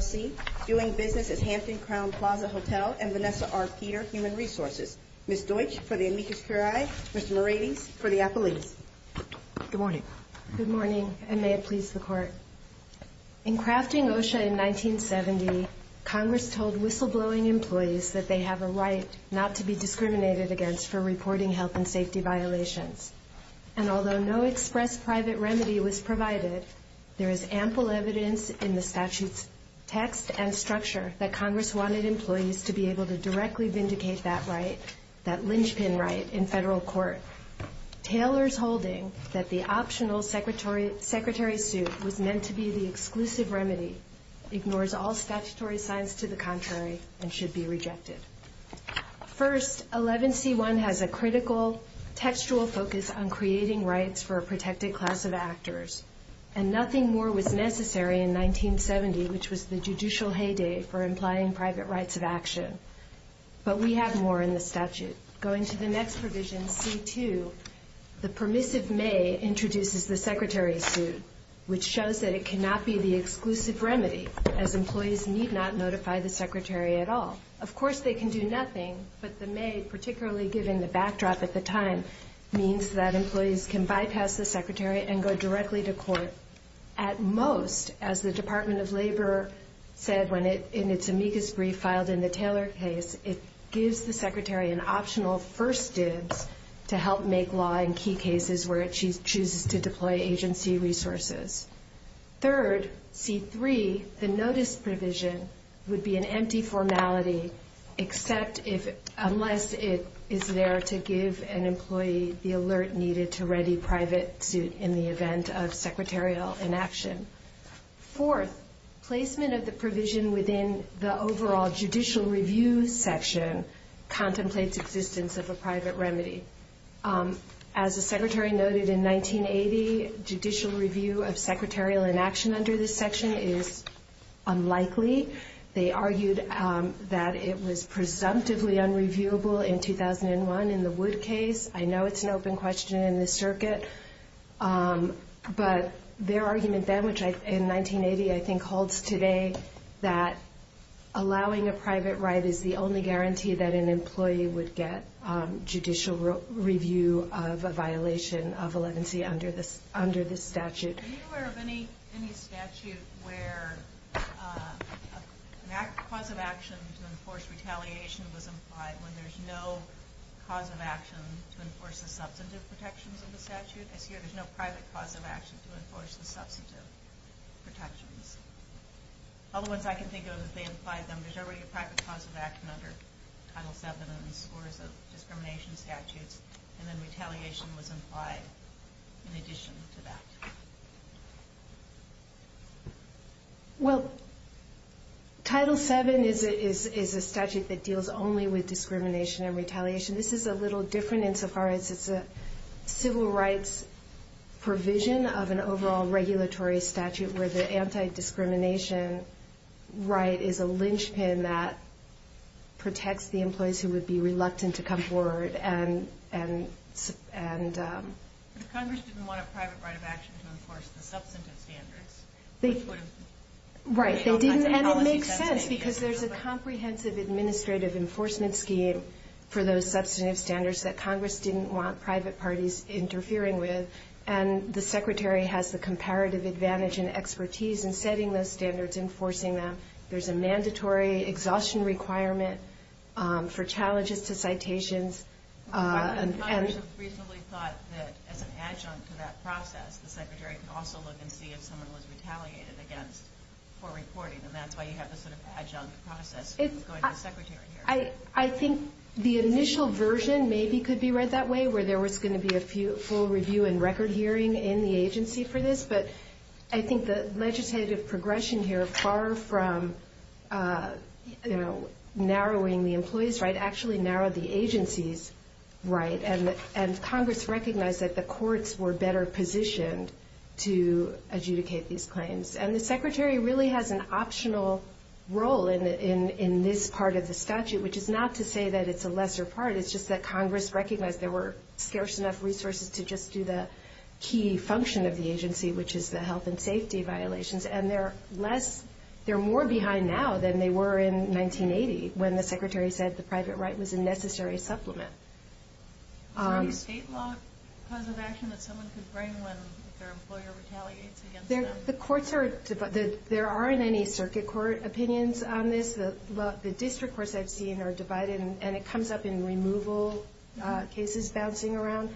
C. Doing business at Hampton Crown Plaza Hotel and Vanessa R. Peter, Human Resources. Ms. Deutsch, for the amicus curiae. Mr. Morales, for the appellees. Good morning. Good morning, and may it please the Court. In crafting OSHA in 1970, Congress told whistleblowing employees that they have a right not to be discriminated against for reporting health and safety violations. And although no express private remedy was provided, there is ample evidence in the statute's text and structure that Congress wanted employees to be able to directly vindicate that right, that linchpin right, in federal court. Taylor's holding that the optional secretary suit was meant to be the exclusive remedy ignores all statutory signs to the contrary and should be rejected. First, 11C1 has a critical textual focus on creating rights for a protected class of actors, and nothing more was necessary in 1970, which was the judicial heyday for implying private rights of action. But we have more in the statute. Going to the next provision, C2, the permissive may introduces the secretary suit, which shows that it cannot be the exclusive remedy, as employees need not notify the secretary at all. Of course, they can do nothing, but the may, particularly given the backdrop at the time, means that employees can bypass the secretary and go directly to court. At most, as the Department of Labor said in its amicus brief filed in the Taylor case, it gives the secretary an optional first dibs to help make law in key cases where it chooses to deploy agency resources. Third, C3, the notice provision would be an empty formality, unless it is there to give an employee the alert needed to ready private suit in the event of secretarial inaction. Fourth, placement of the provision within the overall judicial review section contemplates existence of a private right. As the secretary noted in 1980, judicial review of secretarial inaction under this section is unlikely. They argued that it was presumptively unreviewable in 2001 in the Wood case. I know it's an open question in this circuit, but their argument then, which in 1980 I think holds today, that allowing a private right is the only guarantee that an employee would get judicial review of a violation of elegancy under this statute. Are you aware of any statute where a cause of action to enforce retaliation was implied when there's no cause of action to enforce the substantive protections of the statute? I see there's no private cause of action to enforce the substantive protections. All the same, Title VII and the scores of discrimination statutes, and then retaliation was implied in addition to that. Well, Title VII is a statute that deals only with discrimination and retaliation. This is a little different insofar as it's a civil rights provision of an overall regulatory statute where the anti-discrimination right is a linchpin that protects the employees who would be reluctant to come forward. Congress didn't want a private right of action to enforce the substantive standards. Right, and it makes sense because there's a comprehensive administrative enforcement scheme for those substantive standards that Congress didn't want private parties interfering with, and the Secretary has the comparative advantage and expertise in setting those standards, enforcing them. There's a mandatory exhaustion requirement for challenges to citations. Congress has recently thought that as an adjunct to that process, the Secretary can also look and see if someone was retaliated against for reporting, and that's why you have this sort of adjunct process going to the Secretary here. I think the initial version maybe could be read that way, where there was going to be a full review and record hearing in the agency for this, but I think the legislative progression here, far from narrowing the employees' right, actually narrowed the agency's right, and Congress recognized that the courts were better positioned to adjudicate these claims. And the Secretary really has an optional role in this part of the statute, which is not to say that it's a lesser part. It's just that Congress recognized there were scarce enough resources to just do the key function of the agency, which is the health and safety violations, and they're more behind now than they were in 1980, when the Secretary said the private right was a necessary supplement. Is there a state law cause of action that someone could bring when their employer retaliates against them? The courts are divided. There aren't any circuit court opinions on this. The district courts I've seen are divided, and it comes up in removal cases bouncing around.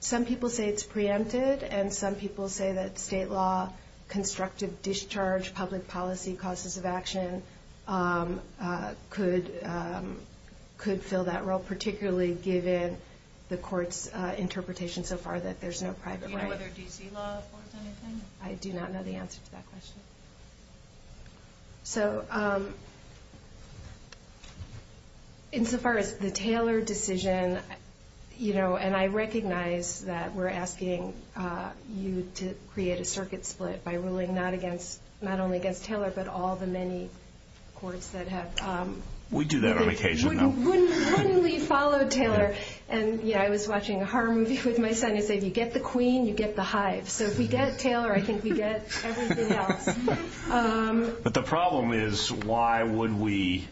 Some people say it's preempted, and some people say that state law, constructive discharge, public policy causes of action, could fill that role, particularly given the court's interpretation so far that there's no private right. And whether D.C. law affords anything? I do not know the answer to that question. So, insofar as the Taylor decision, you know, and I recognize that we're asking you to create a circuit split by ruling not only against Taylor, but all the many courts that have We do that on occasion. Wouldn't we follow Taylor? And, you know, I was watching a horror movie with my son, and he said, you get the queen, you get the hive. So if we get Taylor, I think we get everything else. But the problem is, why would we,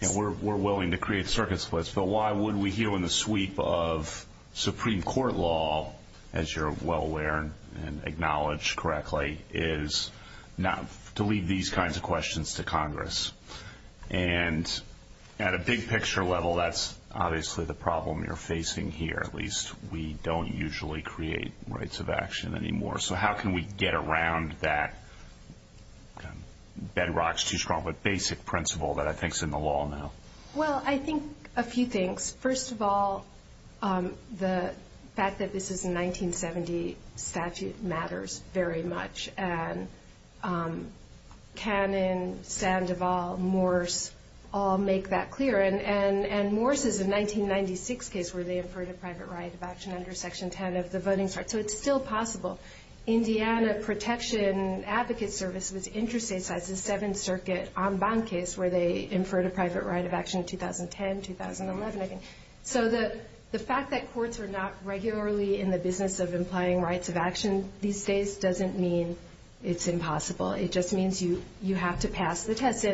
and we're willing to create circuit splits, but why would we, here in the sweep of Supreme Court law, as you're well aware and acknowledge correctly, is not to leave these kinds of questions to Congress? And at a big-picture level, that's obviously the problem you're facing here, at least. We don't usually create rights of action anymore. So how can we get around that bedrock's-too-strong-but-basic principle that I think's in the law now? Well, I think a few things. First of all, the fact that this is a 1970 statute matters very much, and Cannon, Sandoval, Morse all make that clear. And Morse is a 1996 case where they inferred a private right of action under Section 10 of the Voting Rights Act. So it's still possible. Indiana Protection Advocate Service was interstate-sized. The Seventh Circuit en banc case, where they had a private right of action in 2010, 2011, I think. So the fact that courts are not regularly in the business of implying rights of action these days doesn't mean it's impossible. It just means you have to pass the test.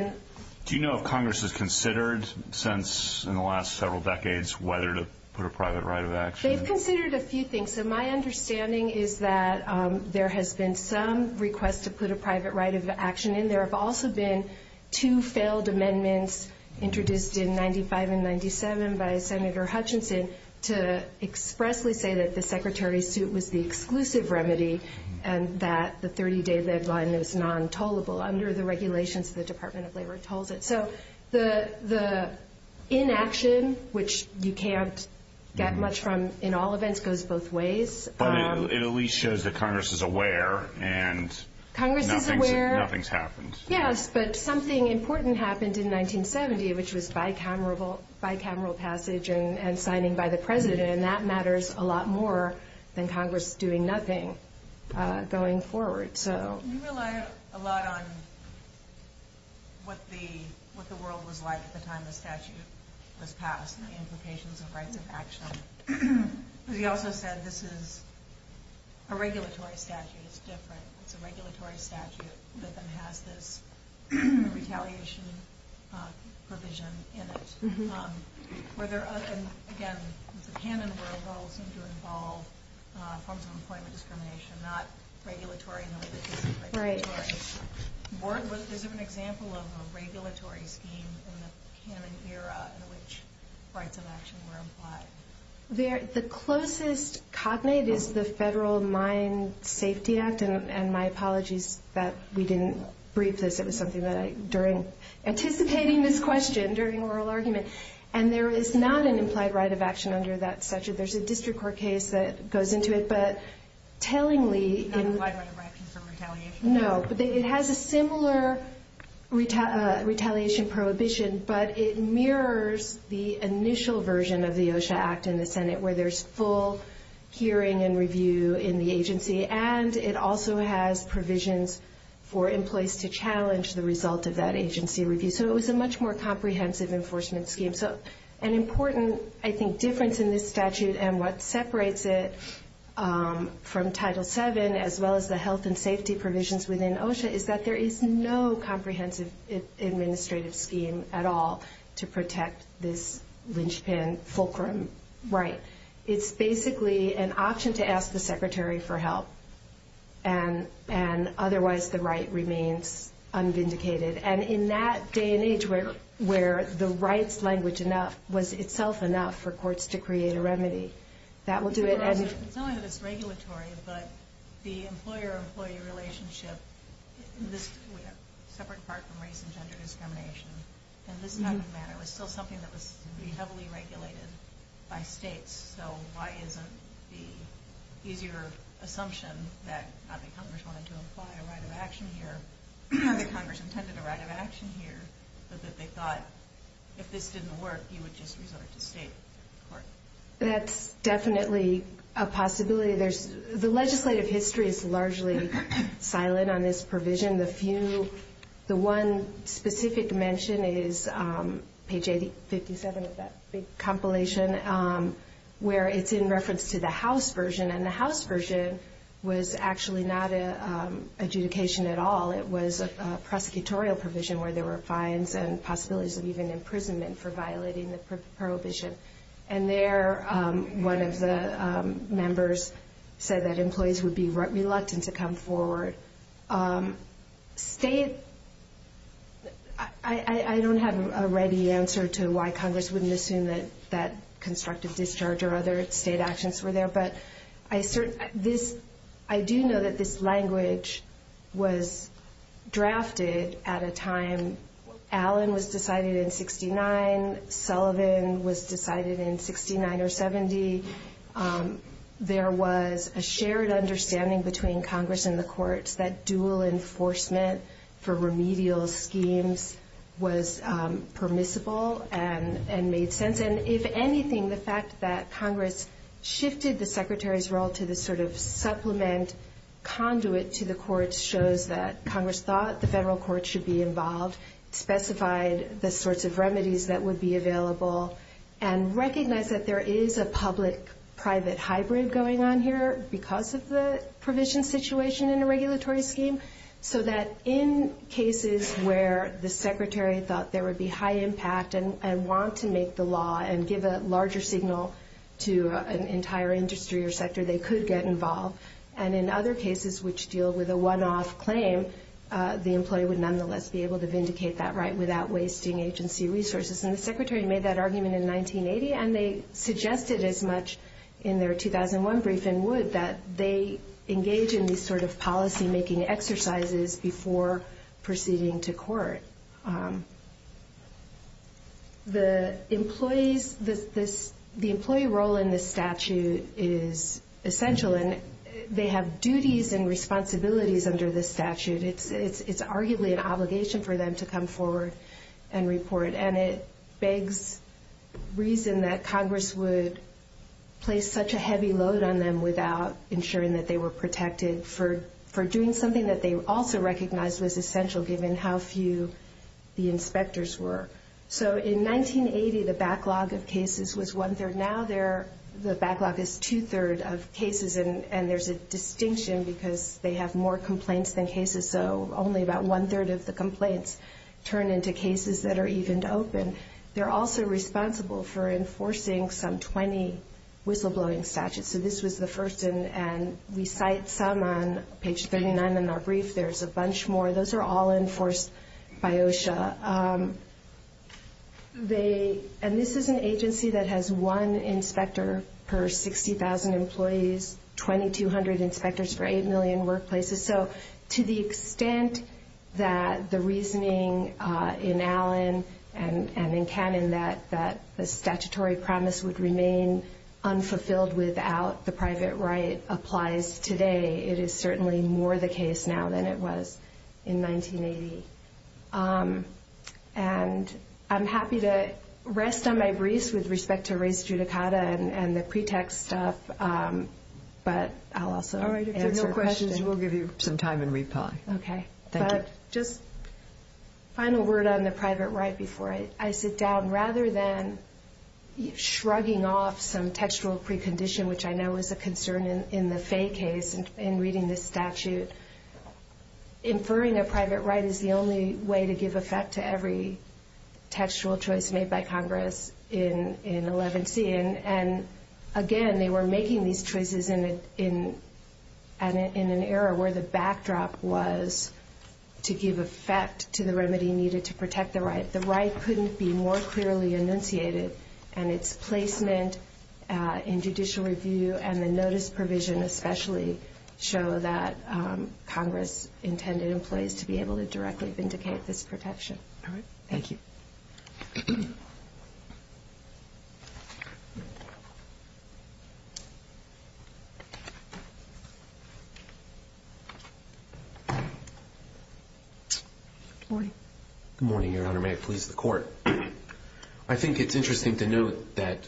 Do you know if Congress has considered, since in the last several decades, whether to put a private right of action? They've considered a few things. So my understanding is that there has been some request to put a private right of action in. There have also been two failed amendments introduced in 1995 and 1997 by Senator Hutchinson to expressly say that the Secretary's suit was the exclusive remedy and that the 30-day deadline is non-tollable under the regulations of the Department of Labor tolls. So the inaction, which you can't get much from in all events, goes both ways. But it at least shows that Congress is aware and nothing's happened. Yes, but something important happened in 1970, which was bicameral passage and signing by the President. And that matters a lot more than Congress doing nothing going forward. You rely a lot on what the world was like at the time the statute was passed and the a regulatory statute is different. It's a regulatory statute that then has this retaliation provision in it. And again, the canon world rules seem to involve forms of employment discrimination, not regulatory in the way that this is regulatory. Right. Is there an example of a regulatory scheme in the canon era in which rights of action were applied? The closest cognate is the Federal Mine Safety Act. And my apologies that we didn't brief this. It was something that I, during anticipating this question, during oral argument. And there is not an implied right of action under that statute. There's a district court case that goes into it. But tellingly... Not implied right of action for retaliation. No, but it has a similar retaliation prohibition, but it mirrors the initial version of the Act in the Senate where there's full hearing and review in the agency. And it also has provisions for employees to challenge the result of that agency review. So it was a much more comprehensive enforcement scheme. So an important, I think, difference in this statute and what separates it from Title VII as well as the health and safety provisions within OSHA is that there is no comprehensive administrative scheme at all to protect this linchpin fulcrum right. It's basically an option to ask the secretary for help. And otherwise the right remains unvindicated. And in that day and age where the rights language was itself enough for courts to create a remedy, that will do it. It's not only that it's regulatory, but the employer-employee relationship, in this separate part from race and gender discrimination, in this type of manner was still something that was heavily regulated by states. So why isn't the easier assumption that not only Congress wanted to imply a right of action here, not that Congress intended a right of action here, but that they thought if this didn't work you would just resort to state court? That's definitely a possibility. The legislative history is largely silent on this provision. The one specific mention is page 57 of that big compilation where it's in reference to the House version. And the House version was actually not an adjudication at all. It was a prosecutorial provision where there were fines and possibilities of even prohibition. And there one of the members said that employees would be reluctant to come forward. State, I don't have a ready answer to why Congress wouldn't assume that constructive discharge or other state actions were there. But I do know that this language was drafted at a time. Allen was decided in 69. Sullivan was decided in 69 or 70. There was a shared understanding between Congress and the courts that dual enforcement for remedial schemes was permissible and made sense. And if anything, the fact that Congress shifted the Secretary's role to this sort of supplement conduit to the courts shows that Congress thought the federal courts should be involved, specified the sorts of remedies that would be available, and recognized that there is a public-private hybrid going on here because of the provision situation in a regulatory scheme. So that in cases where the Secretary thought there would be high impact and want to make the law and give a larger signal to an entire industry or sector, they could get involved. And in other cases which deal with a one-off claim, the employee would nonetheless be able to vindicate that right without wasting agency resources. And the Secretary made that argument in 1980, and they suggested as much in their 2001 briefing would that they engage in these sort of policymaking exercises before proceeding to court. The employee role in this statute is essential, and they have duties and responsibilities under this statute. It's arguably an obligation for them to come forward and report, and it begs reason that Congress would place such a heavy load on them without ensuring that they were protected for doing something that they also recognized was essential given how few the inspectors were. So in 1980, the backlog of cases was one-third. Now the backlog is two-third of cases, and there's a distinction because they have more complaints than cases, so only about one-third of the complaints turn into cases that are evened open. They're also responsible for enforcing some 20 whistleblowing statutes. So this was the first, and we cite some on page 39 in our brief. There's a bunch more. Those are all enforced by OSHA. And this is an agency that has one inspector per 60,000 employees, 2,200 inspectors for 8 million workplaces. So to the extent that the reasoning in Allen and in Cannon that the statutory promise would remain unfulfilled without the private right applies today, it is certainly more the case now than it was in 1980. And I'm happy to rest on my briefs with respect to race judicata and the pretext stuff, but I'll also answer questions. All right. If there are no questions, we'll give you some time and reply. Okay. Thank you. Just a final word on the private right before I sit down. Rather than shrugging off some textual precondition, which I know is a concern in the Fay case in reading this statute, inferring a private right is the only way to give effect to every textual choice made by Congress in 11C. And again, they were making these choices in an era where the backdrop was to give effect to the remedy needed to protect the right. The right couldn't be more clearly enunciated, and its placement in judicial review and the notice provision especially show that Congress intended employees to be able to directly vindicate this protection. All right. Thank you. Good morning. Good morning, Your Honor. May it please the Court. I think it's interesting to note that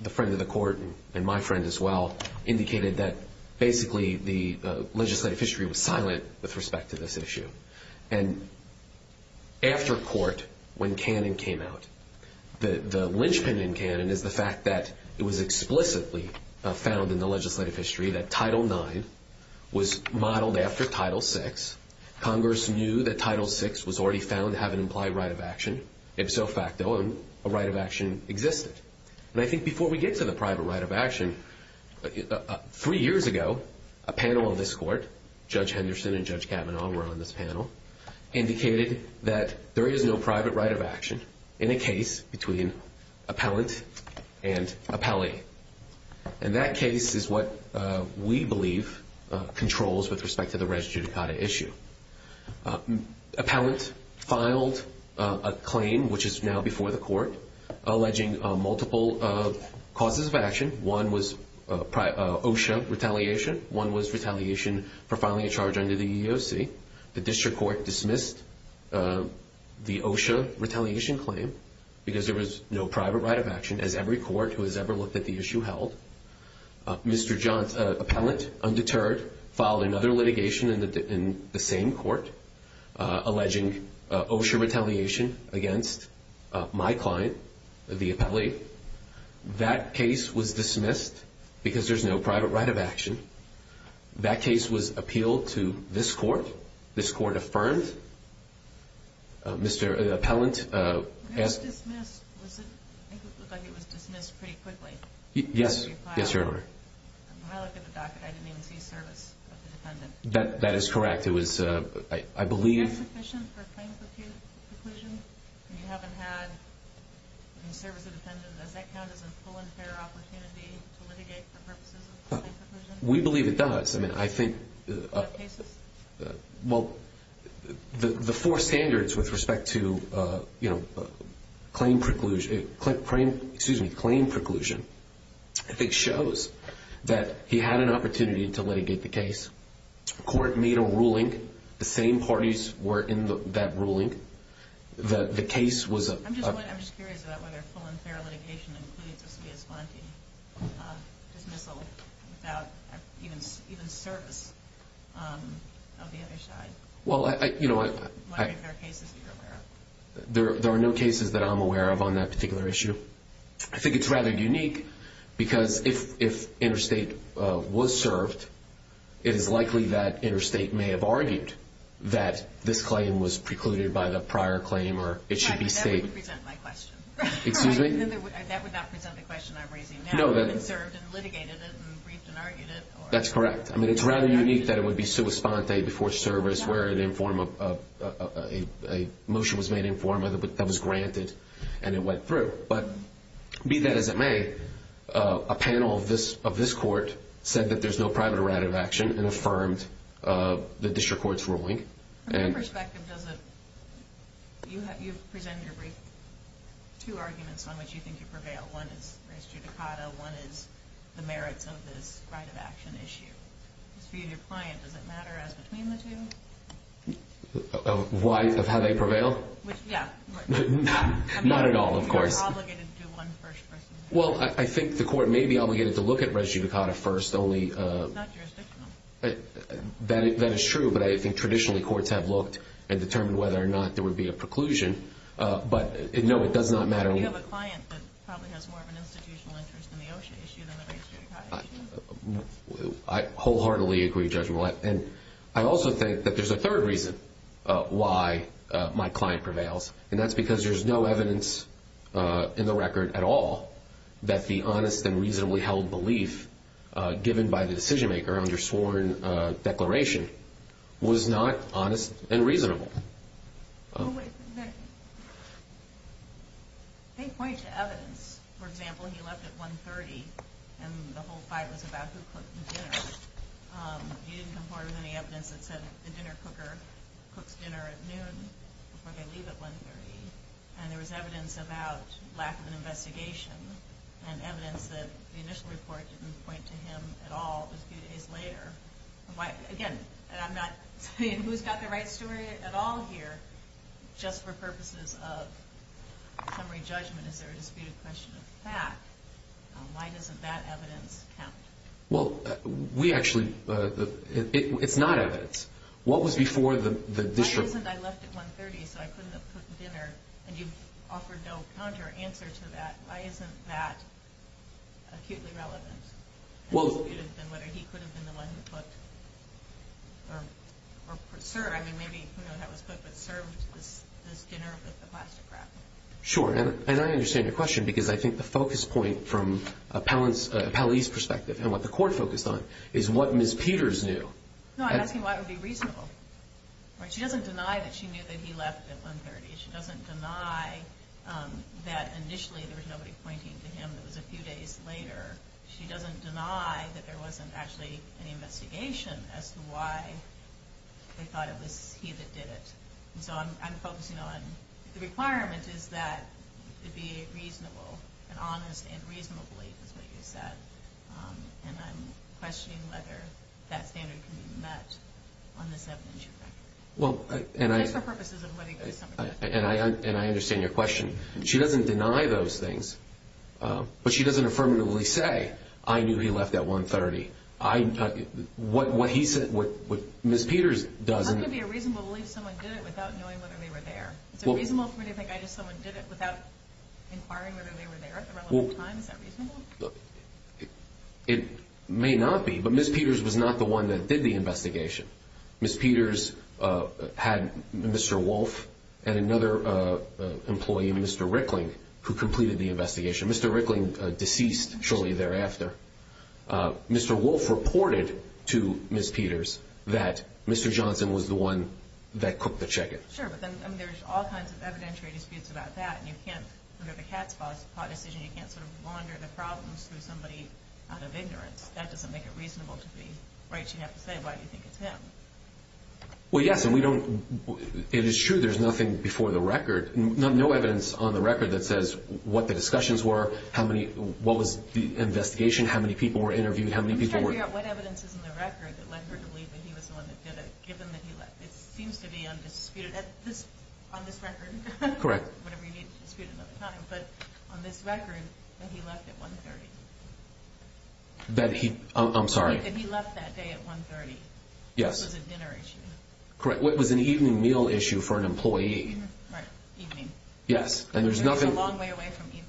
the friend of the Court, and my friend as well, indicated that basically the legislative history was silent with respect to this issue. And after court, when Cannon came out, the linchpin in Cannon is the fact that it was explicitly found in the legislative history that Title IX was modeled after Title VI. Congress knew that Title VI was already found to have an implied right of action, ipso facto, and a right of action existed. And I think before we get to the private right of action, three years ago, a panel of this Court, Judge Henderson and Judge Kavanaugh were on this panel, indicated that there is no private right of action in a case between appellant and appellee. And that case is what we believe controls with respect to the res judicata issue. Appellant filed a claim, which is now before the Court, alleging multiple causes of action. One was OSHA retaliation. One was a private retaliation claim, because there was no private right of action, as every Court who has ever looked at the issue held. Mr. Appellant, undeterred, filed another litigation in the same Court, alleging OSHA retaliation against my client, the appellee. That case was dismissed, because there's no private right of action. That case was appealed to this Court. This Court affirmed. Mr. Appellant asked... It was dismissed. I think it looked like it was dismissed pretty quickly. Yes. Yes, Your Honor. When I look at the docket, I didn't even see service of the defendant. That is correct. It was, I believe... Is that sufficient for a claim preclusion, when you haven't had any service of the defendant? Does that count as a full and fair opportunity to litigate for purposes of a claim preclusion? We believe it does. I mean, I think... For cases? Well, the four standards with respect to, you know, claim preclusion, I think shows that he had an opportunity to litigate the case. Court made a ruling. The same parties were in that ruling. The case was... I'm just curious about whether full and fair litigation includes a spia sponte dismissal without even service of the other side. Well, you know... What other cases are you aware of? There are no cases that I'm aware of on that particular issue. I think it's rather unique because if interstate was served, it is likely that interstate may have argued that this claim was precluded by the prior claim or it should be stated... That would present my question. Excuse me? That would not present the question I'm raising now. It would have been served and litigated it and briefed and argued it or... That's correct. I mean, it's rather unique that it would be sua sponte before service where a motion was made informal that was granted and it went through. But be that as it may, a panel of this court said that there's no private or additive action and affirmed the district court's ruling. From your perspective, you've presented two arguments on which you think you prevail. One is res judicata. One is the merits of this right of action issue. As for you and your client, does it matter as between the two? Of how they prevail? Yeah. Not at all, of course. You're obligated to do one first person. Well, I think the court may be obligated to look at res judicata first, only... It's not jurisdictional. That is true, but I think traditionally courts have looked and determined whether or not there would be a preclusion. But no, it does not matter... You have a client that probably has more of an institutional interest in the OSHA issue than the res judicata issue. I wholeheartedly agree, Judge Mullen. And I also think that there's a third reason why my client prevails, and that's because there's no evidence in the record at all that the honest and reasonably held belief given by the decision maker under sworn declaration was not honest and reasonable. They point to evidence. For example, he left at 1.30, and the whole fight was about who cooked the dinner. You didn't come forward with any evidence that said the dinner cooker cooks dinner at noon before they leave at 1.30, and there was evidence about lack of an investigation and evidence that the initial report didn't point to him at all just a few days later. Again, I'm not saying who's got the right story at all here. Just for purposes of summary judgment, is there a disputed question of fact? Why doesn't that evidence count? Well, we actually... It's not evidence. What was before the district... Why isn't, I left at 1.30, so I couldn't have cooked dinner, and you offered no counter answer to that. Why isn't that acutely relevant? Well... Sure, and I understand your question, because I think the focus point from a appellee's perspective, and what the court focused on, is what Ms. Peters knew. She doesn't deny that there wasn't actually any investigation as to why they thought it was he that did it. And so I'm focusing on the requirement is that it be reasonable and honest and reasonably, is what you said. And I'm questioning whether that standard can be met on this evidence you brought. Well, and I... Just for purposes of summary judgment. And I understand your question. She doesn't deny those things. But she doesn't affirmatively say, I knew he left at 1.30. I... What he said... What Ms. Peters doesn't... How can it be a reasonable belief someone did it without knowing whether they were there? Is it reasonable for me to think someone did it without inquiring whether they were there at the relevant time? Is that reasonable? It may not be, but Ms. Peters was not the one that did the investigation. Ms. Peters had Mr. Wolfe and another employee, Mr. Rickling, who completed the investigation. Mr. Rickling deceased shortly thereafter. Mr. Wolfe reported to Ms. Peters that Mr. Johnson was the one that cooked the chicken. Sure, but then there's all kinds of evidentiary disputes about that. And you can't... We have a cat's paw decision. You can't sort of wander the problems through somebody out of ignorance. That doesn't make it reasonable to be... Right. You have to say why you think it's him. Well, yes, and we don't... It is true there's nothing before the record, no evidence on the record that says what the discussions were, how many... What was the investigation, how many people were interviewed, how many people were... We can't figure out what evidence is in the record that led her to believe that he was the one that did it, given that he left. It seems to be undisputed on this record. Correct. Whenever you need to dispute another time. But on this record, that he left at 1.30. That he... I'm sorry. That he left that day at 1.30. Yes. It was a dinner issue. Correct. It was an evening meal issue for an employee. Right. Evening. Yes. And there's nothing... It's a long way away from evening.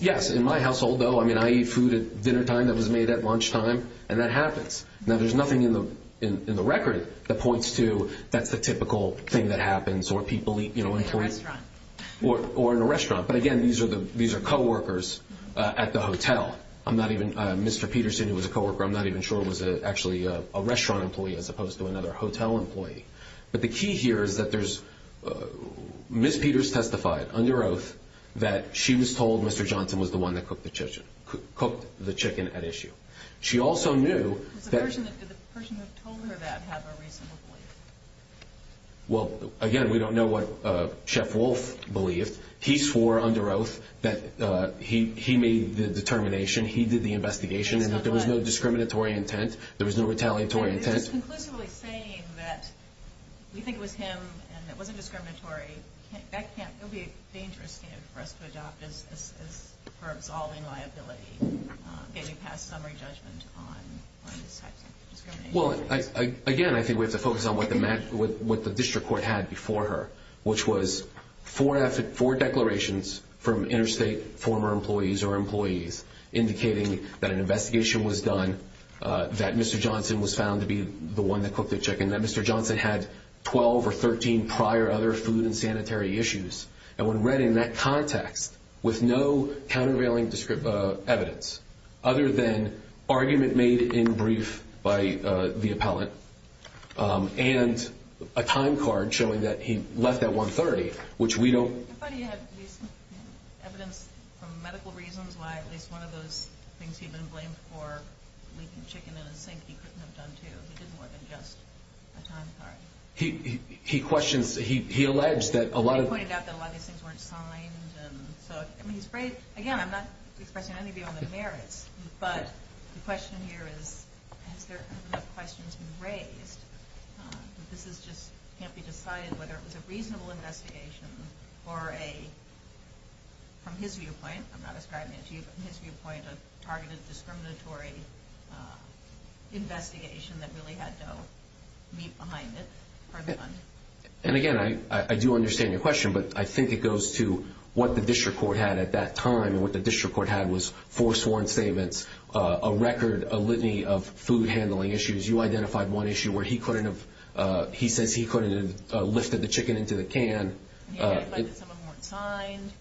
Yes. In my household, though, I mean, I eat food at dinnertime that was made at lunchtime, and that happens. Now, there's nothing in the record that points to that's the typical thing that happens or people eat... In a restaurant. Or in a restaurant. But again, these are co-workers at the hotel. I'm not even... Mr. Peterson, who was a co-worker, I'm not even sure was actually a restaurant employee as opposed to another hotel employee. But the key here is that there's... Ms. Peters testified under oath that she was told Mr. Johnson was the one that cooked the chicken at issue. She also knew that... Does the person who told her that have a reasonable belief? Well, again, we don't know what Chef Wolf believed. He swore under oath that he made the determination, he did the investigation, and that there was no discriminatory intent, there was no retaliatory intent. And this is conclusively saying that we think it was him and it wasn't discriminatory. That can't... It would be dangerous for us to adopt as her absolving liability, getting past summary judgment on these types of discrimination. Well, again, I think we have to focus on what the district court had before her, which was four declarations from interstate former employees or employees indicating that an investigation was done, that Mr. Johnson was found to be the one that cooked the chicken, that Mr. Johnson had 12 or 13 prior other food and sanitary issues. And when read in that context with no countervailing evidence other than argument made in brief by the appellant and a time card showing that he left at 1.30, which we don't... But he had evidence from medical reasons why at least one of those things he'd been blamed for, leaking chicken in a sink, he couldn't have done too. He did more than just a time card. He questions... He alleged that a lot of... He pointed out that a lot of these things weren't signed and so... I mean, he's brave. Again, I'm not expressing any view on the merits, but the question here is, has there been enough questions raised? This is just... Can't be decided whether it was a reasonable investigation or a... From his viewpoint, I'm not ascribing it to you, but from his viewpoint, a targeted discriminatory investigation that really had no meat behind it. And again, I do understand your question, but I think it goes to what the district court had at that time and what the district court had was four sworn statements, a record, a litany of food handling issues. You identified one issue where he couldn't have... He says he couldn't have lifted the chicken into the can. He identified that some of them weren't signed.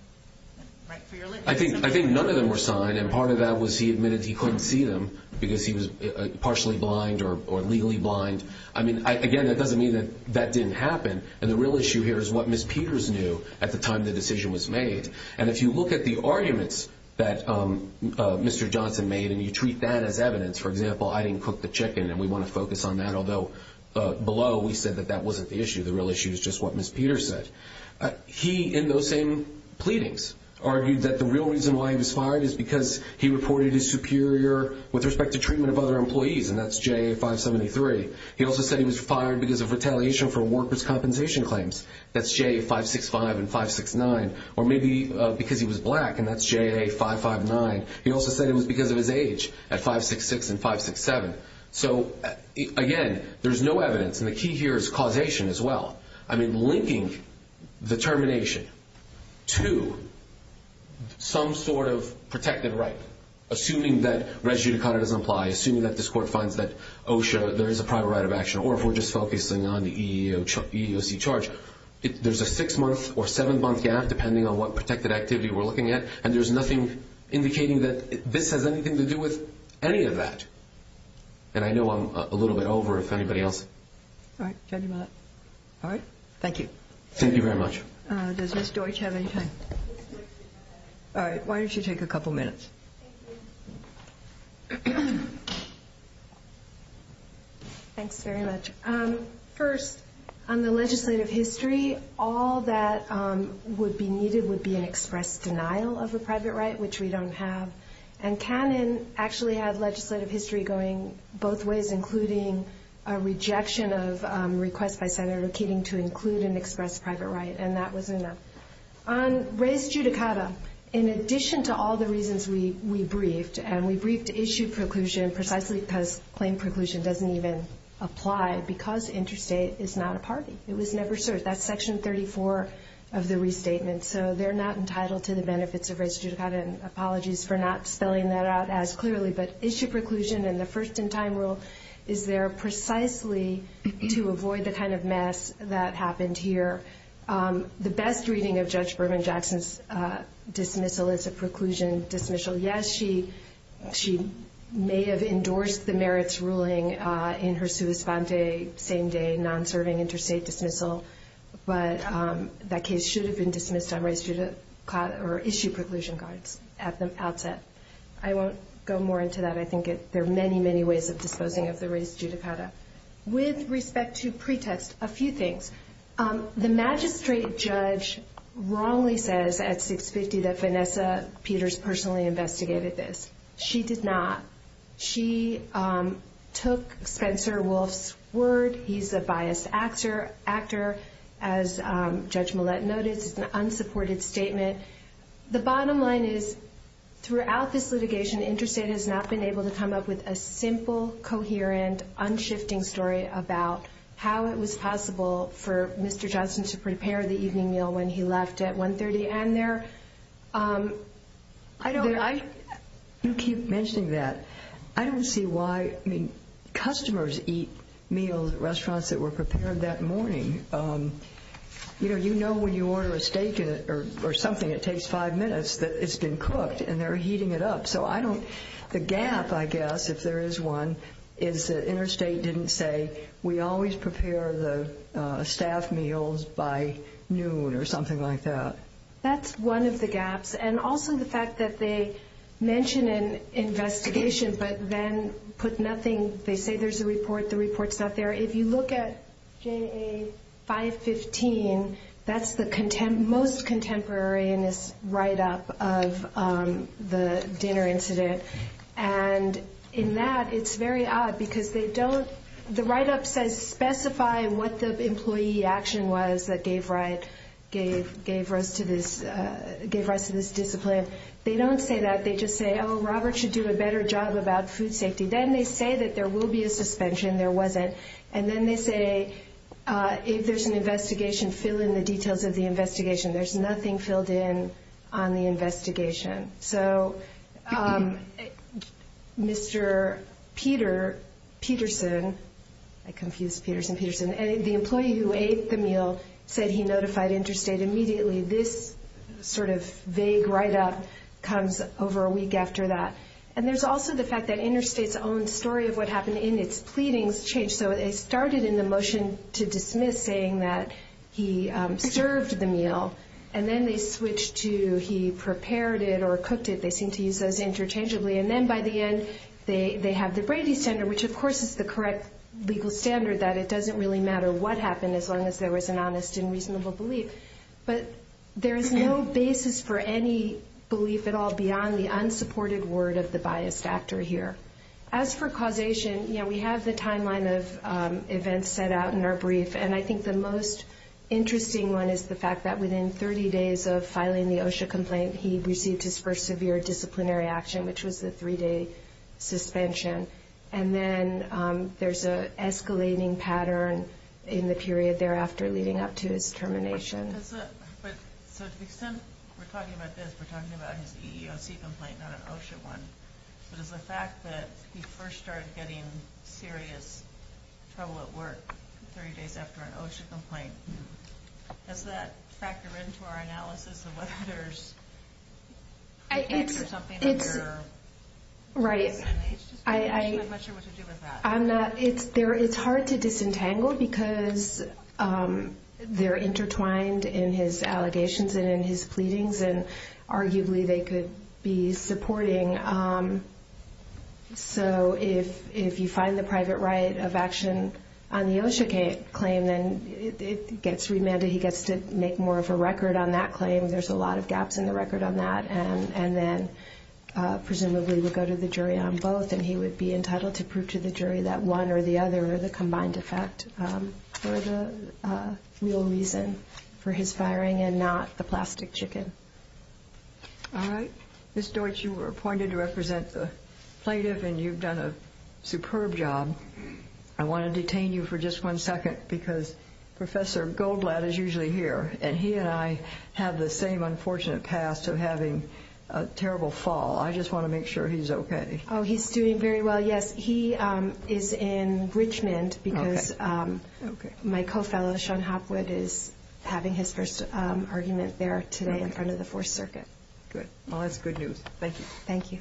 Right for your litany. I think none of them were signed, and part of that was he admitted he couldn't see them because he was partially blind or legally blind. I mean, again, that doesn't mean that that didn't happen. And the real issue here is what Ms. Peters knew at the time the decision was made. And if you look at the arguments that Mr. Johnson made and you treat that as evidence, for example, I didn't cook the chicken and we want to focus on that, although below we said that that wasn't the issue. The real issue is just what Ms. Peters said. He, in those same pleadings, argued that the real reason why he was fired is because he reported his superior with respect to treatment of other employees, and that's JA573. He also said he was fired because of retaliation for workers' compensation claims. That's JA565 and 569. Or maybe because he was black, and that's JA559. He also said it was because of his age at 566 and 567. So, again, there's no evidence, and the key here is causation as well. I mean, linking the termination to some sort of protected right, assuming that res judicata doesn't apply, assuming that this court finds that OSHA, there is a prior right of action, or if we're just focusing on the EEOC charge, there's a six-month or seven-month gap, depending on what protected activity we're looking at, and there's nothing indicating that this has anything to do with any of that. And I know I'm a little bit over if anybody else. All right, thank you. Thank you very much. Does Ms. Deutsch have any time? All right, why don't you take a couple minutes? Thank you. Thanks very much. First, on the legislative history, all that would be needed would be an express denial of a private right, which we don't have, and Cannon actually had legislative history going both ways, including a rejection of a request by Senator Keating to include an express private right, and that was enough. On res judicata, in addition to all the reasons we briefed, and we briefed issue preclusion precisely because claim preclusion doesn't even apply because interstate is not a party. It was never served. That's Section 34 of the restatement, so they're not entitled to the benefits of res judicata, and apologies for not spelling that out as clearly, but issue preclusion and the first-in-time rule is there precisely to avoid the kind of mess that happened here. The best reading of Judge Berman-Jackson's dismissal is a preclusion dismissal. Yes, she may have endorsed the merits ruling in her sua sponte, same-day, non-serving interstate dismissal, but that case should have been dismissed on res judicata or issue preclusion cards at the outset. I won't go more into that. I think there are many, many ways of disposing of the res judicata. With respect to pretext, a few things. The magistrate judge wrongly says at 650 that Vanessa Peters personally investigated this. She did not. She took Spencer Wolf's word. He's a biased actor. As Judge Millett noted, it's an unsupported statement. The bottom line is throughout this litigation, Interstate has not been able to come up with a simple, coherent, unshifting story about how it was possible for Mr. Johnson to prepare the evening meal when he left at 130. And there are, I don't, I, You keep mentioning that. I don't see why, I mean, customers eat meals at restaurants that were prepared that morning. You know when you order a steak or something, it takes five minutes that it's been cooked and they're heating it up. So I don't, the gap, I guess, if there is one, is that Interstate didn't say, we always prepare the staff meals by noon or something like that. That's one of the gaps. And also the fact that they mention an investigation but then put nothing, they say there's a report, the report's not there. If you look at JA 515, that's the most contemporary in this write-up of the dinner incident. And in that, it's very odd because they don't, the write-up says, specify what the employee action was that gave rise to this discipline. They don't say that. They just say, oh, Robert should do a better job about food safety. Then they say that there will be a suspension. There wasn't. And then they say, if there's an investigation, fill in the details of the investigation. There's nothing filled in on the investigation. So Mr. Peter Peterson, I confused Peterson, Peterson, the employee who ate the meal said he notified Interstate immediately. This sort of vague write-up comes over a week after that. And there's also the fact that Interstate's own story of what happened in its pleadings changed. So they started in the motion to dismiss saying that he served the meal. And then they switched to he prepared it or cooked it. They seemed to use those interchangeably. And then by the end, they have the Brady standard, which, of course, is the correct legal standard, that it doesn't really matter what happened as long as there was an honest and reasonable belief. But there is no basis for any belief at all beyond the unsupported word of the biased actor here. As for causation, we have the timeline of events set out in our brief. And I think the most interesting one is the fact that within 30 days of filing the OSHA complaint, he received his first severe disciplinary action, which was the three-day suspension. And then there's an escalating pattern in the period thereafter leading up to his termination. So to the extent we're talking about this, we're talking about his EEOC complaint, not an OSHA one. But is the fact that he first started getting serious trouble at work 30 days after an OSHA complaint, does that factor into our analysis of whether there's a text or something on there? Right. I'm not sure what to do with that. It's hard to disentangle because they're intertwined in his allegations and in his pleadings, and arguably they could be supporting. So if you find the private right of action on the OSHA claim, then it gets remanded. He gets to make more of a record on that claim. There's a lot of gaps in the record on that. And then presumably we'll go to the jury on both, and he would be entitled to prove to the jury that one or the other are the combined effect for the real reason for his firing and not the plastic chicken. All right. Ms. Deutsch, you were appointed to represent the plaintiff, and you've done a superb job. I want to detain you for just one second because Professor Goldblatt is usually here, and he and I have the same unfortunate past of having a terrible fall. I just want to make sure he's okay. Oh, he's doing very well, yes. He is in Richmond because my co-fellow, Sean Hopwood, is having his first argument there today in front of the Fourth Circuit. Good. Well, that's good news. Thank you. Thank you.